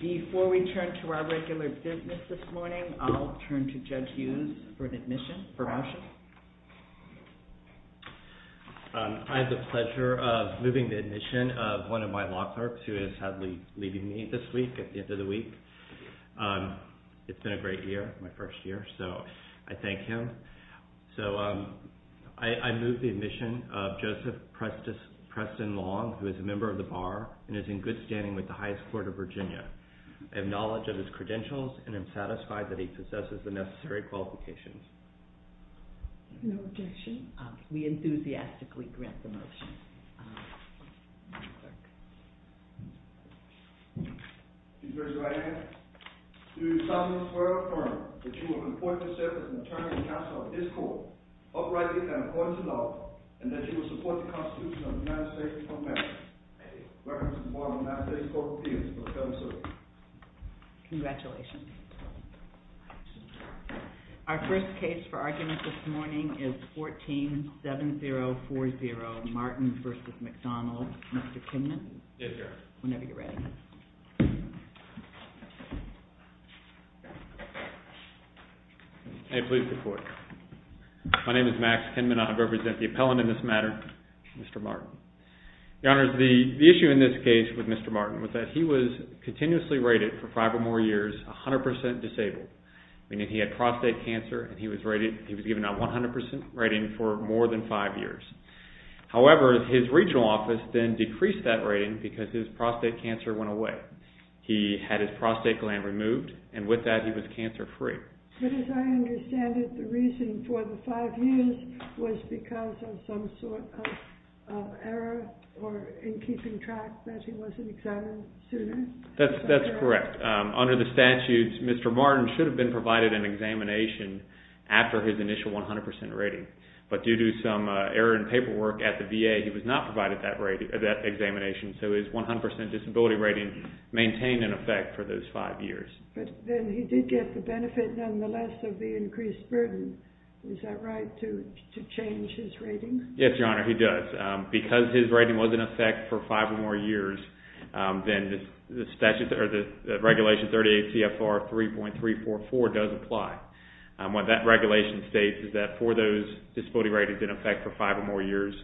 Before we turn to our regular business this morning, I'll turn to Judge Hughes for an admission for motion. I have the pleasure of moving the admission of one of my law clerks who is sadly leaving me this week at the end of the week. It's been a great year, my first year, so I thank him. So I move the admission of Joseph Preston Long, who is a member of the Bar and is in good standing with the highest court of Virginia. I have knowledge of his credentials and am satisfied that he possesses the necessary qualifications. No objection. We enthusiastically grant the motion. Judge Hughes, do I have it? Do you solemnly swear or affirm that you will report yourself as an attorney and counsel of this court, uprightly and according to law, and that you will support the Constitution of the United States of America? I do. Reference to the Board of the United States Court of Appeals. Congratulations. Our first case for argument this morning is 14-7040, Martin v. McDonald. Mr. Kinman? Yes, Your Honor. Whenever you're ready. May it please the Court. My name is Max Kinman. I represent the appellant in this matter, Mr. Martin. Your Honor, the issue in this case with Mr. Martin was that he was continuously rated for five or more years 100% disabled, meaning he had prostate cancer and he was rated, he was given a 100% rating for more than five years. However, his regional office then decreased that rating because his prostate cancer went away. He had his prostate gland removed and with that he was cancer free. But as I understand it, the reason for the five years was because of some sort of error or in keeping track that he wasn't examined sooner? That's correct. Under the statutes, Mr. Martin should have been provided an examination after his initial 100% rating, but due to some error in paperwork at the VA, he was not provided that examination, so his 100% disability rating maintained in effect for those five years. But then he did get the benefit, nonetheless, of the increased burden. Is that right, to change his rating? Yes, Your Honor, he does. Because his rating was in effect for five or more years, then the regulation 38 CFR 3.344 does apply. What that regulation states is that for those disability ratings in effect for five or more years,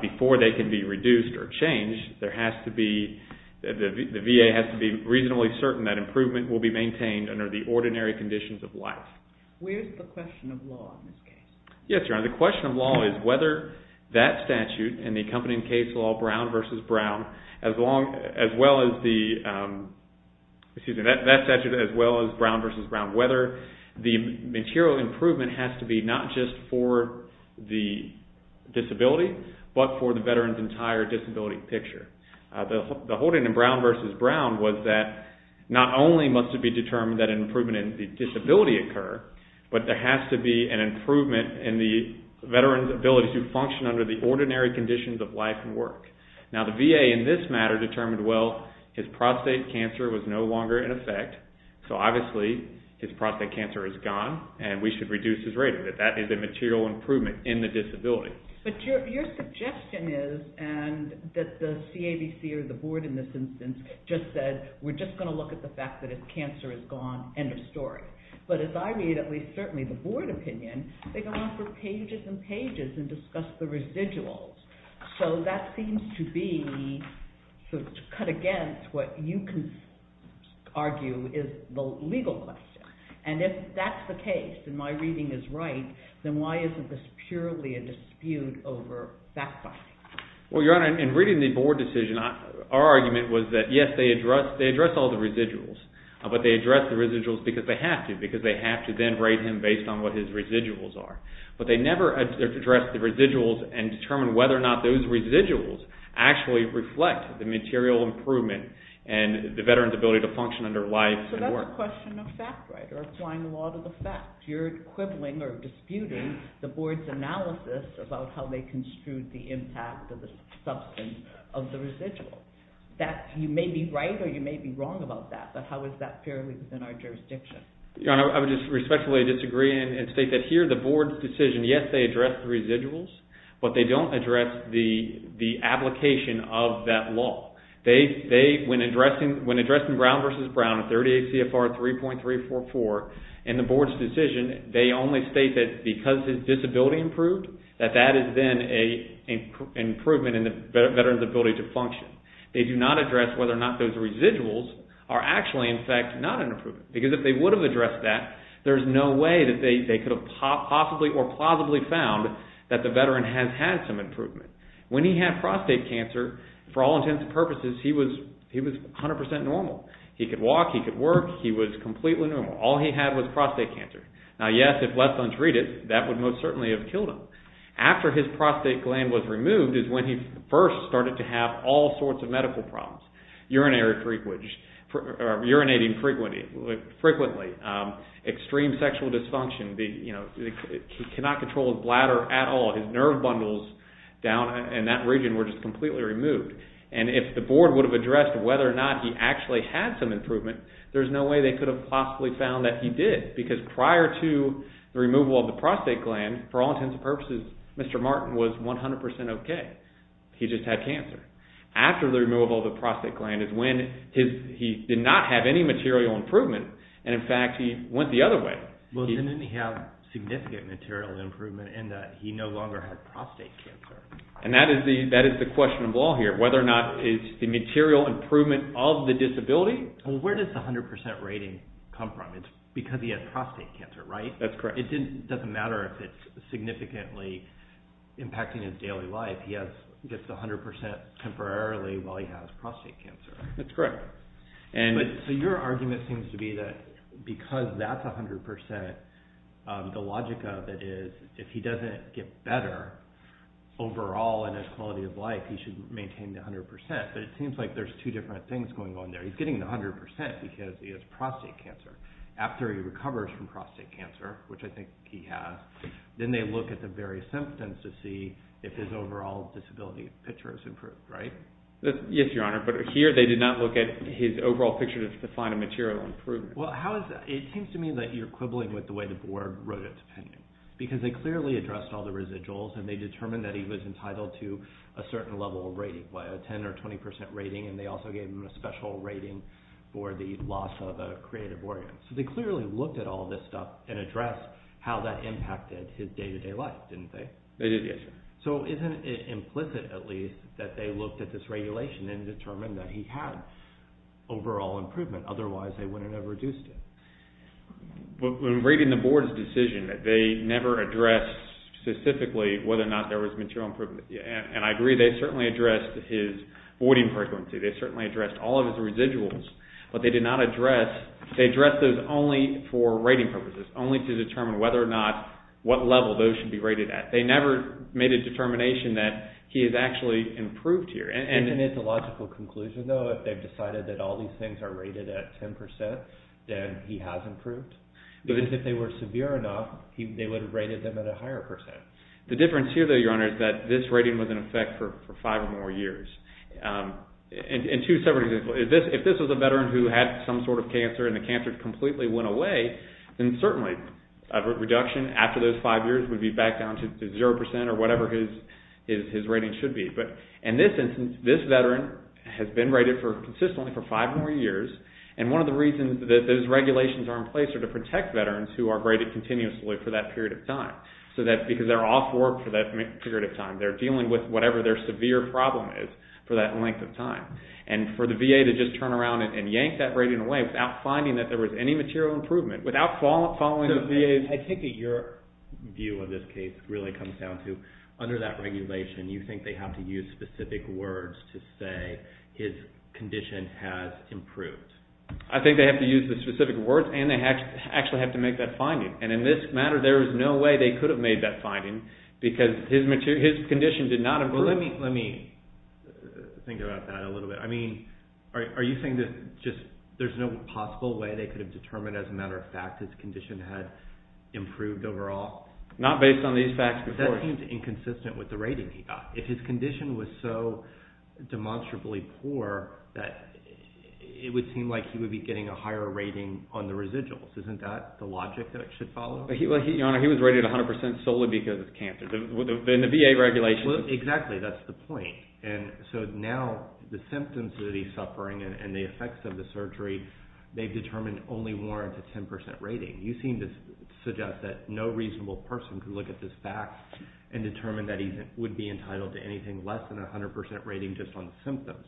before they can be reduced or changed, there be maintained under the ordinary conditions of life. Where's the question of law in this case? Yes, Your Honor, the question of law is whether that statute and the accompanying case law, Brown v. Brown, as long as well as the, excuse me, that statute as well as Brown v. Brown, whether the material improvement has to be not just for the disability, but for the veteran's entire disability picture. The whole thing in Brown v. Brown was that not only must it be determined that an improvement in the disability occur, but there has to be an improvement in the veteran's ability to function under the ordinary conditions of life and work. Now, the VA in this matter determined, well, his prostate cancer was no longer in effect, so obviously his prostate cancer is gone, and we should reduce his rating, that that is a material improvement in the disability. But your suggestion is that the CAVC or the board in this instance just said, we're just going to look at the fact that his cancer is gone, end of story. But as I read, at least certainly the board opinion, they go on for pages and pages and discuss the residuals. So that seems to be cut against what you can argue is the legal question. And if that's the case, and my reading is right, then why isn't this purely a dispute over fact-finding? Well, Your Honor, in reading the board decision, our argument was that yes, they address all the residuals, but they address the residuals because they have to, because they have to then rate him based on what his residuals are. But they never address the residuals and determine whether or not those residuals actually reflect the material improvement and the veteran's ability to function under life and work. That's not a question of fact, right, or applying the law to the fact. You're equivalent or disputing the board's analysis about how they construed the impact of the substance of the residual. You may be right or you may be wrong about that, but how is that purely within our jurisdiction? Your Honor, I would just respectfully disagree and state that here the board's decision, yes, they address the residuals, but they don't address the application of that law. When addressing Brown v. Brown at 38 CFR 3.344 in the board's decision, they only state that because his disability improved, that that is then an improvement in the veteran's ability to function. They do not address whether or not those residuals are actually, in fact, not an improvement, because if they would have addressed that, there's no way that they could have possibly or plausibly found that the veteran has had some improvement. When he had prostate cancer, for all intents and purposes, he was 100 percent normal. He could walk, he could work, he was completely normal. All he had was prostate cancer. Now, yes, if left untreated, that would most certainly have killed him. After his prostate gland was removed is when he first started to have all sorts of medical problems, urinary frequency, urinating frequently, extreme sexual dysfunction. He cannot control his bladder at all. His nerve bundles down in that region were just completely removed, and if the board would have addressed whether or not he actually had some improvement, there's no way they could have possibly found that he did, because prior to the removal of the prostate gland, for all intents and purposes, Mr. Martin was 100 percent okay. He just had cancer. After the removal of the prostate gland is when he did not have any material improvement, and in fact, he went the other way. Well, then didn't he have significant material improvement in that he no longer had prostate cancer? And that is the question of all here, whether or not it's the material improvement of the disability. Well, where does the 100 percent rating come from? It's because he had prostate cancer, right? That's correct. It doesn't matter if it's significantly impacting his daily life. He gets 100 percent temporarily while he has prostate cancer. That's correct. So your argument seems to be that because that's 100 percent, the logic of it is if he doesn't get better overall in his quality of life, he should maintain the 100 percent, but it seems like there's two different things going on there. He's getting the 100 percent because he has prostate cancer. After he recovers from prostate cancer, which I think he has, then they look at the various symptoms to see if his overall disability picture has improved, right? Yes, Your Honor, but here they did not look at his overall picture to find a material improvement. Well, it seems to me that you're quibbling with the way the board wrote its opinion, because they clearly addressed all the residuals and they determined that he was entitled to a certain level of rating, a 10 or 20 percent rating, and they also gave him a special rating for the loss of a creative organ. So they clearly looked at all this stuff and addressed how that impacted his day-to-day life, didn't they? They did, yes. So isn't it implicit, at least, that they looked at this regulation and determined that he had overall improvement, otherwise they wouldn't have reduced it? Well, in reading the board's decision, they never addressed specifically whether or not there was material improvement, and I agree, they certainly addressed his voiding frequency, they certainly addressed all of his residuals, but they did not address, they addressed those only for rating purposes, only to determine whether or not, what level those should be rated at. They never made a determination that he has actually improved here. And it's a logical conclusion, though, if they've decided that all these things are rated at 10 percent, then he has improved. Because if they were severe enough, they would have rated them at a higher percent. The difference here, though, Your Honor, is that this rating was in effect for five or more years. And two separate examples. If this was a veteran who had some sort of cancer and the cancer rate completely went away, then certainly a reduction after those five years would be back down to zero percent or whatever his rating should be. In this instance, this veteran has been rated consistently for five or more years, and one of the reasons that those regulations are in place are to protect veterans who are rated continuously for that period of time. Because they're off work for that period of time, they're dealing with whatever their severe problem is for that length of time. And for the VA to just turn around and yank that rating away without finding that there was any material improvement, without following the VA's... I think your view of this case really comes down to, under that regulation, you think they have to use specific words to say his condition has improved. I think they have to use the specific words and they actually have to make that finding. And in this matter, there is no way they could have made that finding because his condition did not improve. Let me think about that a little bit. Are you saying that there's no possible way they could have determined as a matter of fact his condition had improved overall? Not based on these facts before. That seems inconsistent with the rating he got. If his condition was so demonstrably poor, it would seem like he would be getting a higher rating on the residuals. Isn't that the logic that it should follow? Your Honor, he was rated 100 percent solely because of cancer. Then the VA regulation... Exactly, that's the point. And so now the symptoms that he's suffering and the effects of the surgery, they've determined only warrant a 10 percent rating. You seem to suggest that no reasonable person could look at this fact and determine that he would be entitled to anything less than a 100 percent rating just on the symptoms.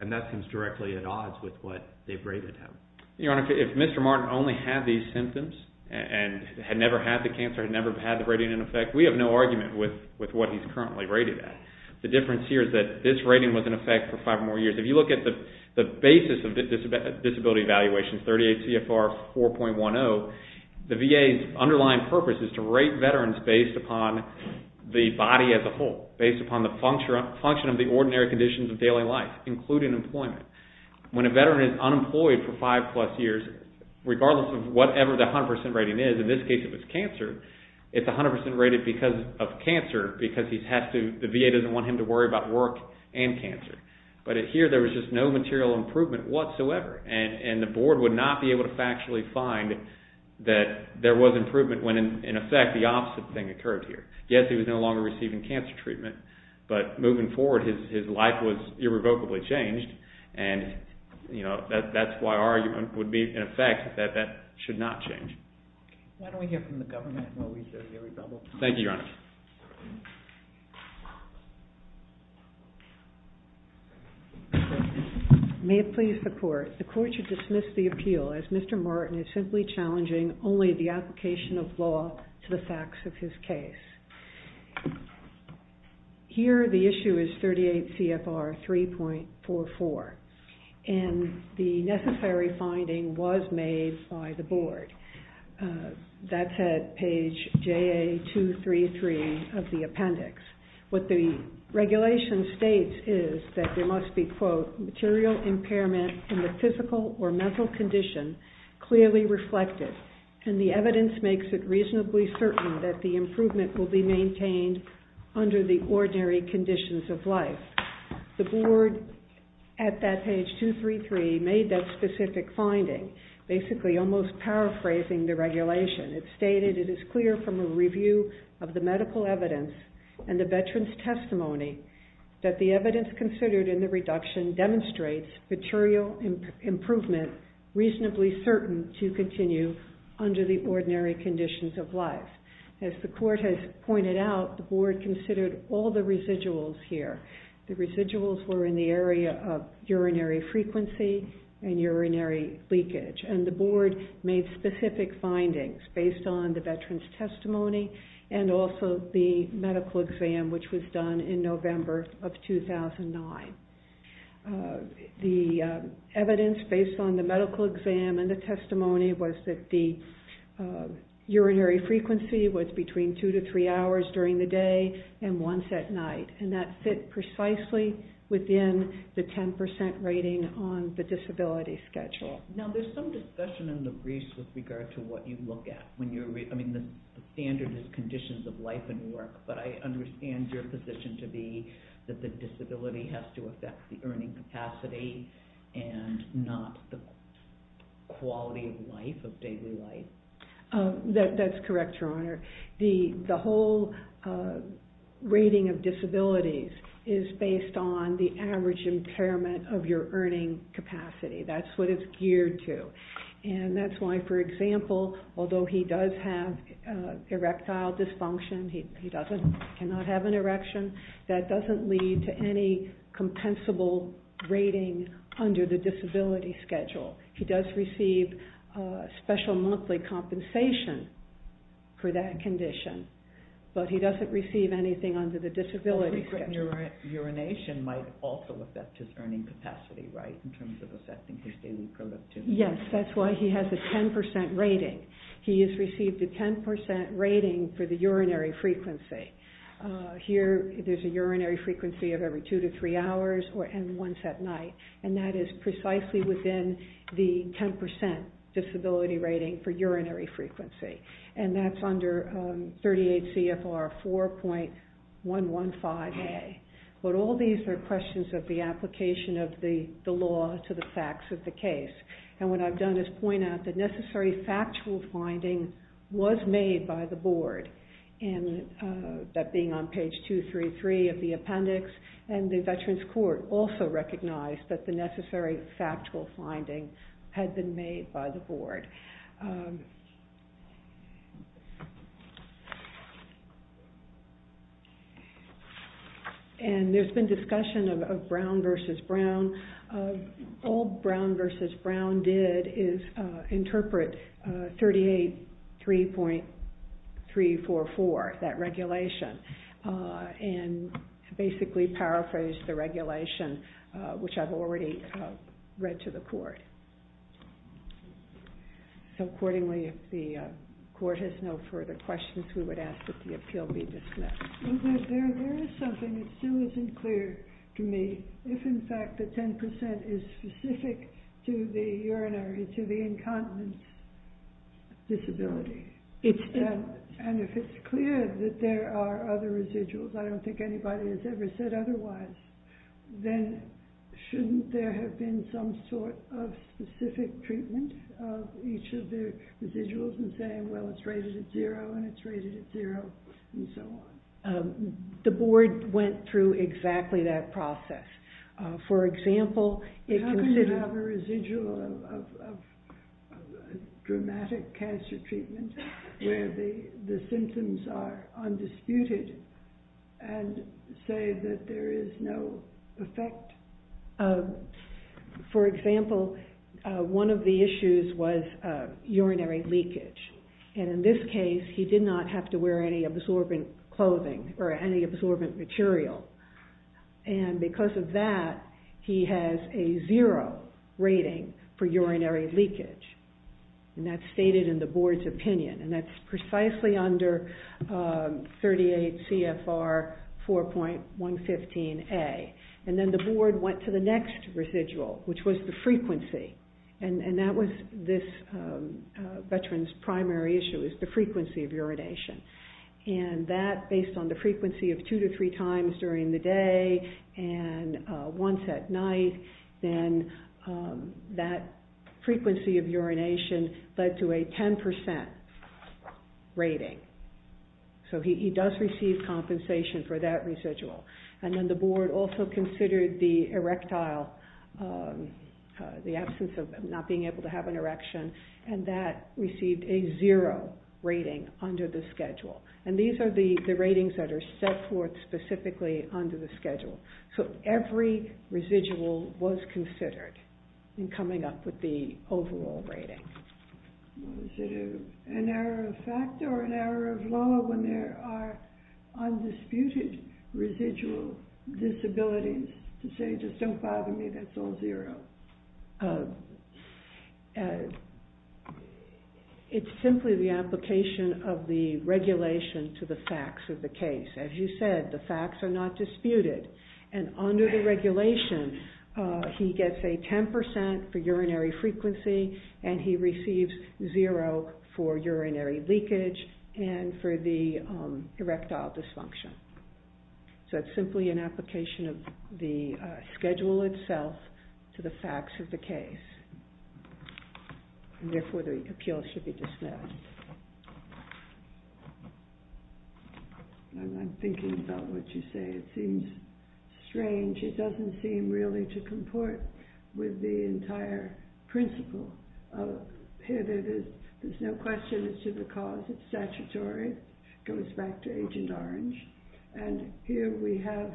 And that seems directly at odds with what they've rated him. Your Honor, if Mr. Martin only had these symptoms and had never had the cancer, had never had the rating in effect, we have no argument with what he's currently rated at. The difference here is that this rating was in effect for five more years. If you look at the basis of disability evaluations, 38 CFR 4.10, the VA's underlying purpose is to rate veterans based upon the body as a whole, based upon the function of the ordinary conditions of daily life, including employment. When a veteran is unemployed for five plus years, regardless of whatever the 100 percent rating is, in this case it was cancer, it's 100 percent rated because of cancer, because the VA doesn't want him to worry about work and cancer. But here there was just no material improvement whatsoever, and the board would not be able to factually find that there was improvement when in effect the opposite thing occurred here. Yes, he was no longer receiving cancer treatment, but moving forward his life was irrevocably changed, and that's why our argument would be, in effect, that that should not change. Why don't we hear from the government while we hear the rebuttal. Thank you, Your Honor. May it please the Court. The Court should dismiss the appeal as Mr. Martin is simply challenging only the application of law to the facts of his case. Here the issue is 38 CFR 3.44, and the necessary finding was made by the board. That's at page JA233 of the appendix. What the regulation states is that there must be, quote, material impairment in the physical or mental condition clearly reflected, and the evidence makes it reasonably certain that the improvement will be maintained under the ordinary conditions of life. The board at that page 233 made that specific finding, basically almost paraphrasing the regulation. It stated it is clear from a review of the medical evidence and the veteran's testimony that the evidence considered in the reduction demonstrates material improvement reasonably certain to continue under the ordinary conditions of life. As the court has pointed out, the board considered all the residuals here. The residuals were in the area of urinary frequency and urinary leakage, and the board made specific findings based on the veteran's testimony and also the medical exam, which was done in November of 2009. The evidence based on the medical exam and the testimony was that the urinary frequency was between two to three hours during the day and once at night, and that fit precisely within the 10% rating on the disability schedule. Now, there's some discussion in the briefs with regard to what you look at. I mean, the standard is conditions of life and work, but I understand your position to be that the disability has to affect the earning capacity and not the quality of life, of daily life. That's correct, Your Honor. The whole rating of disabilities is based on the average impairment of your earning capacity. That's what it's geared to, and that's why, for example, although he does have erectile dysfunction, he cannot have an erection, that doesn't lead to any compensable rating under the disability schedule. He does receive special monthly compensation for that condition, but he doesn't receive anything under the disability schedule. Urination might also affect his earning capacity, right, in terms of assessing his daily productivity. Yes, that's why he has a 10% rating. He has received a 10% rating for the urinary frequency. Here, there's a urinary frequency of every two to three hours and once at night, and that is precisely within the 10% disability rating for urinary frequency, and that's under 38 CFR 4.115A. But all these are questions of the application of the law to the facts of the case, and what I've done is point out that necessary factual finding was made by the board, that being on page 233 of the appendix, and the Veterans Court also recognized that the necessary factual finding had been made by the board. And there's been discussion of Brown v. Brown. All Brown v. Brown did is interpret 38.344, that regulation, and basically paraphrased the regulation, which I've already read to the court. So accordingly, if the court has no further questions, we would ask that the appeal be dismissed. There is something that still isn't clear to me. If, in fact, the 10% is specific to the urinary, to the incontinence disability, and if it's clear that there are other residuals, I don't think anybody has ever said otherwise, then shouldn't there have been some sort of specific treatment of each of the residuals and saying, well, it's rated at zero, and it's rated at zero, and so on? The board went through exactly that process. How can you have a residual of dramatic cancer treatment where the symptoms are undisputed and say that there is no effect? For example, one of the issues was urinary leakage. And in this case, he did not have to wear any absorbent clothing or any absorbent material. And because of that, he has a zero rating for urinary leakage. And that's stated in the board's opinion. And that's precisely under 38 CFR 4.115A. And then the board went to the next residual, which was the frequency. And that was this veteran's primary issue, is the frequency of urination. And that, based on the frequency of two to three times during the day and once at night, then that frequency of urination led to a 10% rating. So he does receive compensation for that residual. And then the board also considered the erectile, the absence of not being able to have an erection, and that received a zero rating under the schedule. And these are the ratings that are set forth specifically under the schedule. So every residual was considered in coming up with the overall rating. Was it an error of fact or an error of law when there are undisputed residual disabilities to say, just don't bother me, that's all zero? It's simply the application of the regulation to the facts of the case. As you said, the facts are not disputed. And under the regulation, he gets a 10% for urinary frequency, and he receives zero for urinary leakage and for the erectile dysfunction. So it's simply an application of the schedule itself to the facts of the case. And therefore, the appeal should be dismissed. I'm thinking about what you say. It seems strange. It doesn't seem really to comport with the entire principle. There's no question as to the cause. It's statutory. It goes back to Agent Orange. And here we have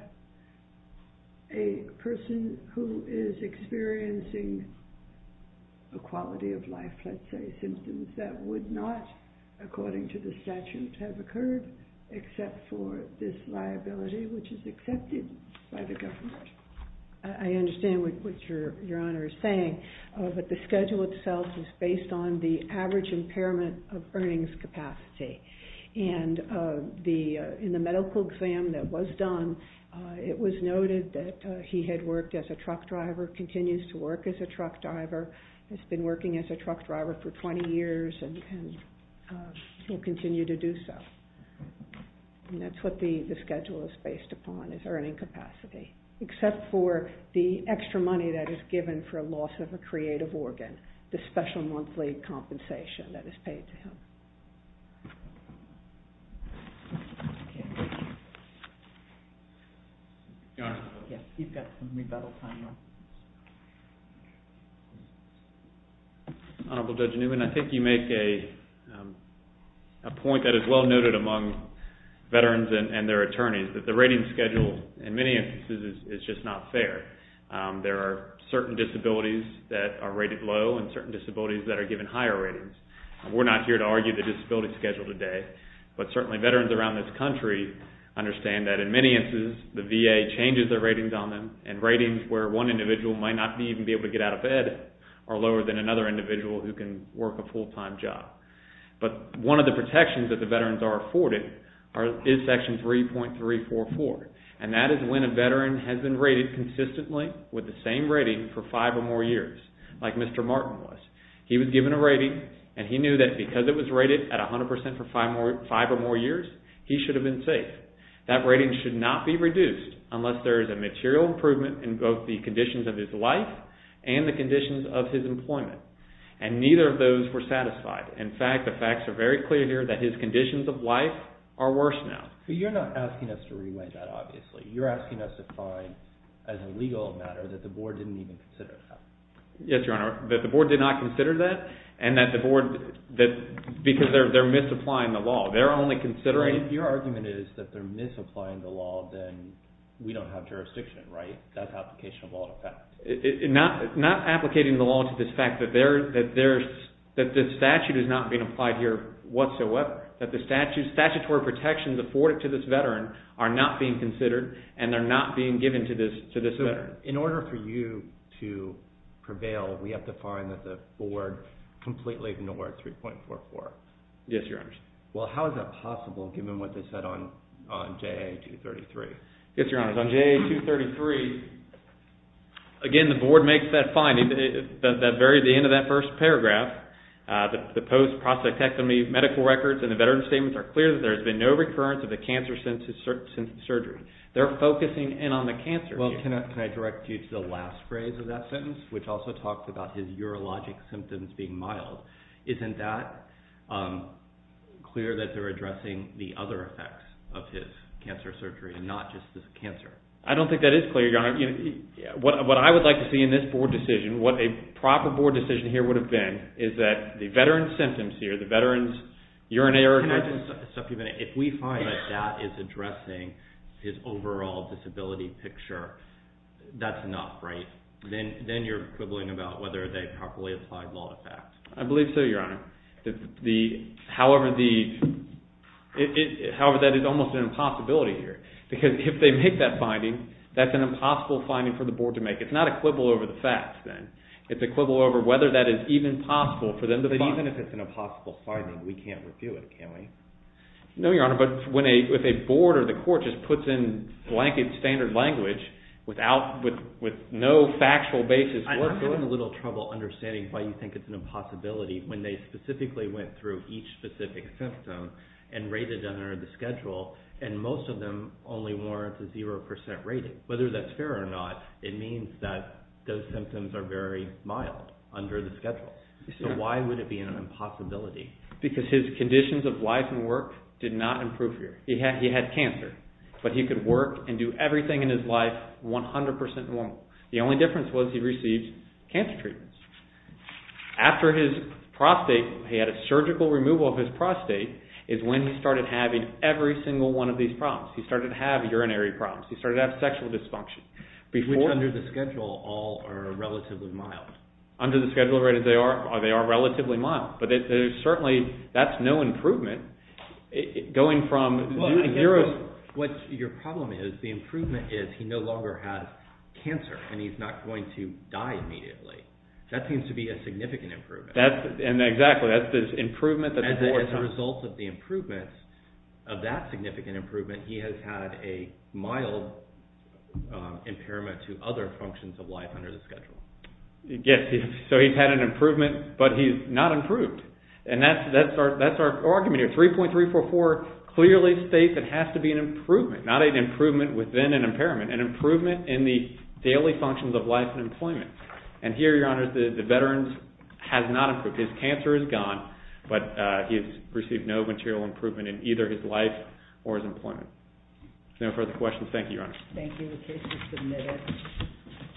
a person who is experiencing a quality of life, let's say, symptoms that would not, according to the statute, have occurred, except for this liability, which is accepted by the government. I understand what Your Honor is saying, but the schedule itself is based on the average impairment of earnings capacity. And in the medical exam that was done, it was noted that he had worked as a truck driver, continues to work as a truck driver, has been working as a truck driver for 20 years, and will continue to do so. And that's what the schedule is based upon, is earning capacity, except for the extra money that is given for a loss of a creative organ, the special monthly compensation that is paid to him. Honorable Judge Newman, I think you make a point that is well noted among veterans and their attorneys, that the rating schedule, in many instances, is just not fair. There are certain disabilities that are rated low and certain disabilities that are given higher ratings. We're not here to argue the disability schedule today, but certainly veterans around this country understand that, in many instances, the VA changes their ratings on them, and ratings where one individual might not even be able to get out of bed are lower than another individual who can work a full-time job. But one of the protections that the veterans are afforded is Section 3.344, and that is when a veteran has been rated consistently with the same rating for five or more years, like Mr. Martin was. He was given a rating, and he knew that because it was rated at 100% for five or more years, he should have been safe. That rating should not be reduced unless there is a material improvement in both the conditions of his life and the conditions of his employment. And neither of those were satisfied. In fact, the facts are very clear here that his conditions of life are worse now. But you're not asking us to re-weight that, obviously. You're asking us to find, as a legal matter, that the Board didn't even consider that. Yes, Your Honor. That the Board did not consider that, and that the Board, because they're misapplying the law. They're only considering... If your argument is that they're misapplying the law, then we don't have jurisdiction, right? That's application of all the facts. Not applicating the law to this fact that the statute is not being applied here whatsoever. That the statutory protections afforded to this Veteran are not being considered, and they're not being given to this Veteran. In order for you to prevail, we have to find that the Board completely ignored 3.44. Yes, Your Honor. Well, how is that possible, given what they said on JA-233? Yes, Your Honor. Because on JA-233, again, the Board makes that finding. At the end of that first paragraph, the post-prospectectomy medical records and the Veteran's statements are clear that there has been no recurrence of a cancer-sensitive surgery. They're focusing in on the cancer here. Well, can I direct you to the last phrase of that sentence, which also talks about his urologic symptoms being mild? Isn't that clear that they're addressing the other effects of his cancer surgery and not just the cancer? I don't think that is clear, Your Honor. What I would like to see in this Board decision, what a proper Board decision here would have been, is that the Veteran's symptoms here, the Veteran's urinary... Can I just supplement? If we find that that is addressing his overall disability picture, that's enough, right? Then you're quibbling about whether they've properly applied all the facts. I believe so, Your Honor. However, that is almost an impossibility here. Because if they make that finding, that's an impossible finding for the Board to make. It's not a quibble over the facts, then. It's a quibble over whether that is even possible for them to find. But even if it's an impossible finding, we can't review it, can we? No, Your Honor. But if a Board or the Court just puts in blanket standard language with no factual basis whatsoever... I'm having a little trouble understanding why you think it's an impossibility when they specifically went through each specific symptom and rated them under the schedule, and most of them only warrant a 0% rating. Whether that's fair or not, it means that those symptoms are very mild under the schedule. So why would it be an impossibility? Because his conditions of life and work did not improve here. He had cancer. But he could work and do everything in his life 100% normal. The only difference was he received cancer treatments. After his prostate, he had a surgical removal of his prostate, is when he started having every single one of these problems. He started to have urinary problems. He started to have sexual dysfunction. Which, under the schedule, all are relatively mild. Under the schedule rated, they are relatively mild. But there's certainly... that's no improvement going from 0... What your problem is, the improvement is he no longer has cancer, and he's not going to die immediately. That seems to be a significant improvement. Exactly. That's the improvement that the Board... Of that significant improvement, he has had a mild impairment to other functions of life under the schedule. Yes. So he's had an improvement, but he's not improved. And that's our argument here. 3.344 clearly states it has to be an improvement. Not an improvement within an impairment. An improvement in the daily functions of life and employment. And here, Your Honor, the veteran has not improved. His cancer is gone, but he's received no material improvement in either his life or his employment. If there are no further questions, thank you, Your Honor. Thank you. The case is submitted.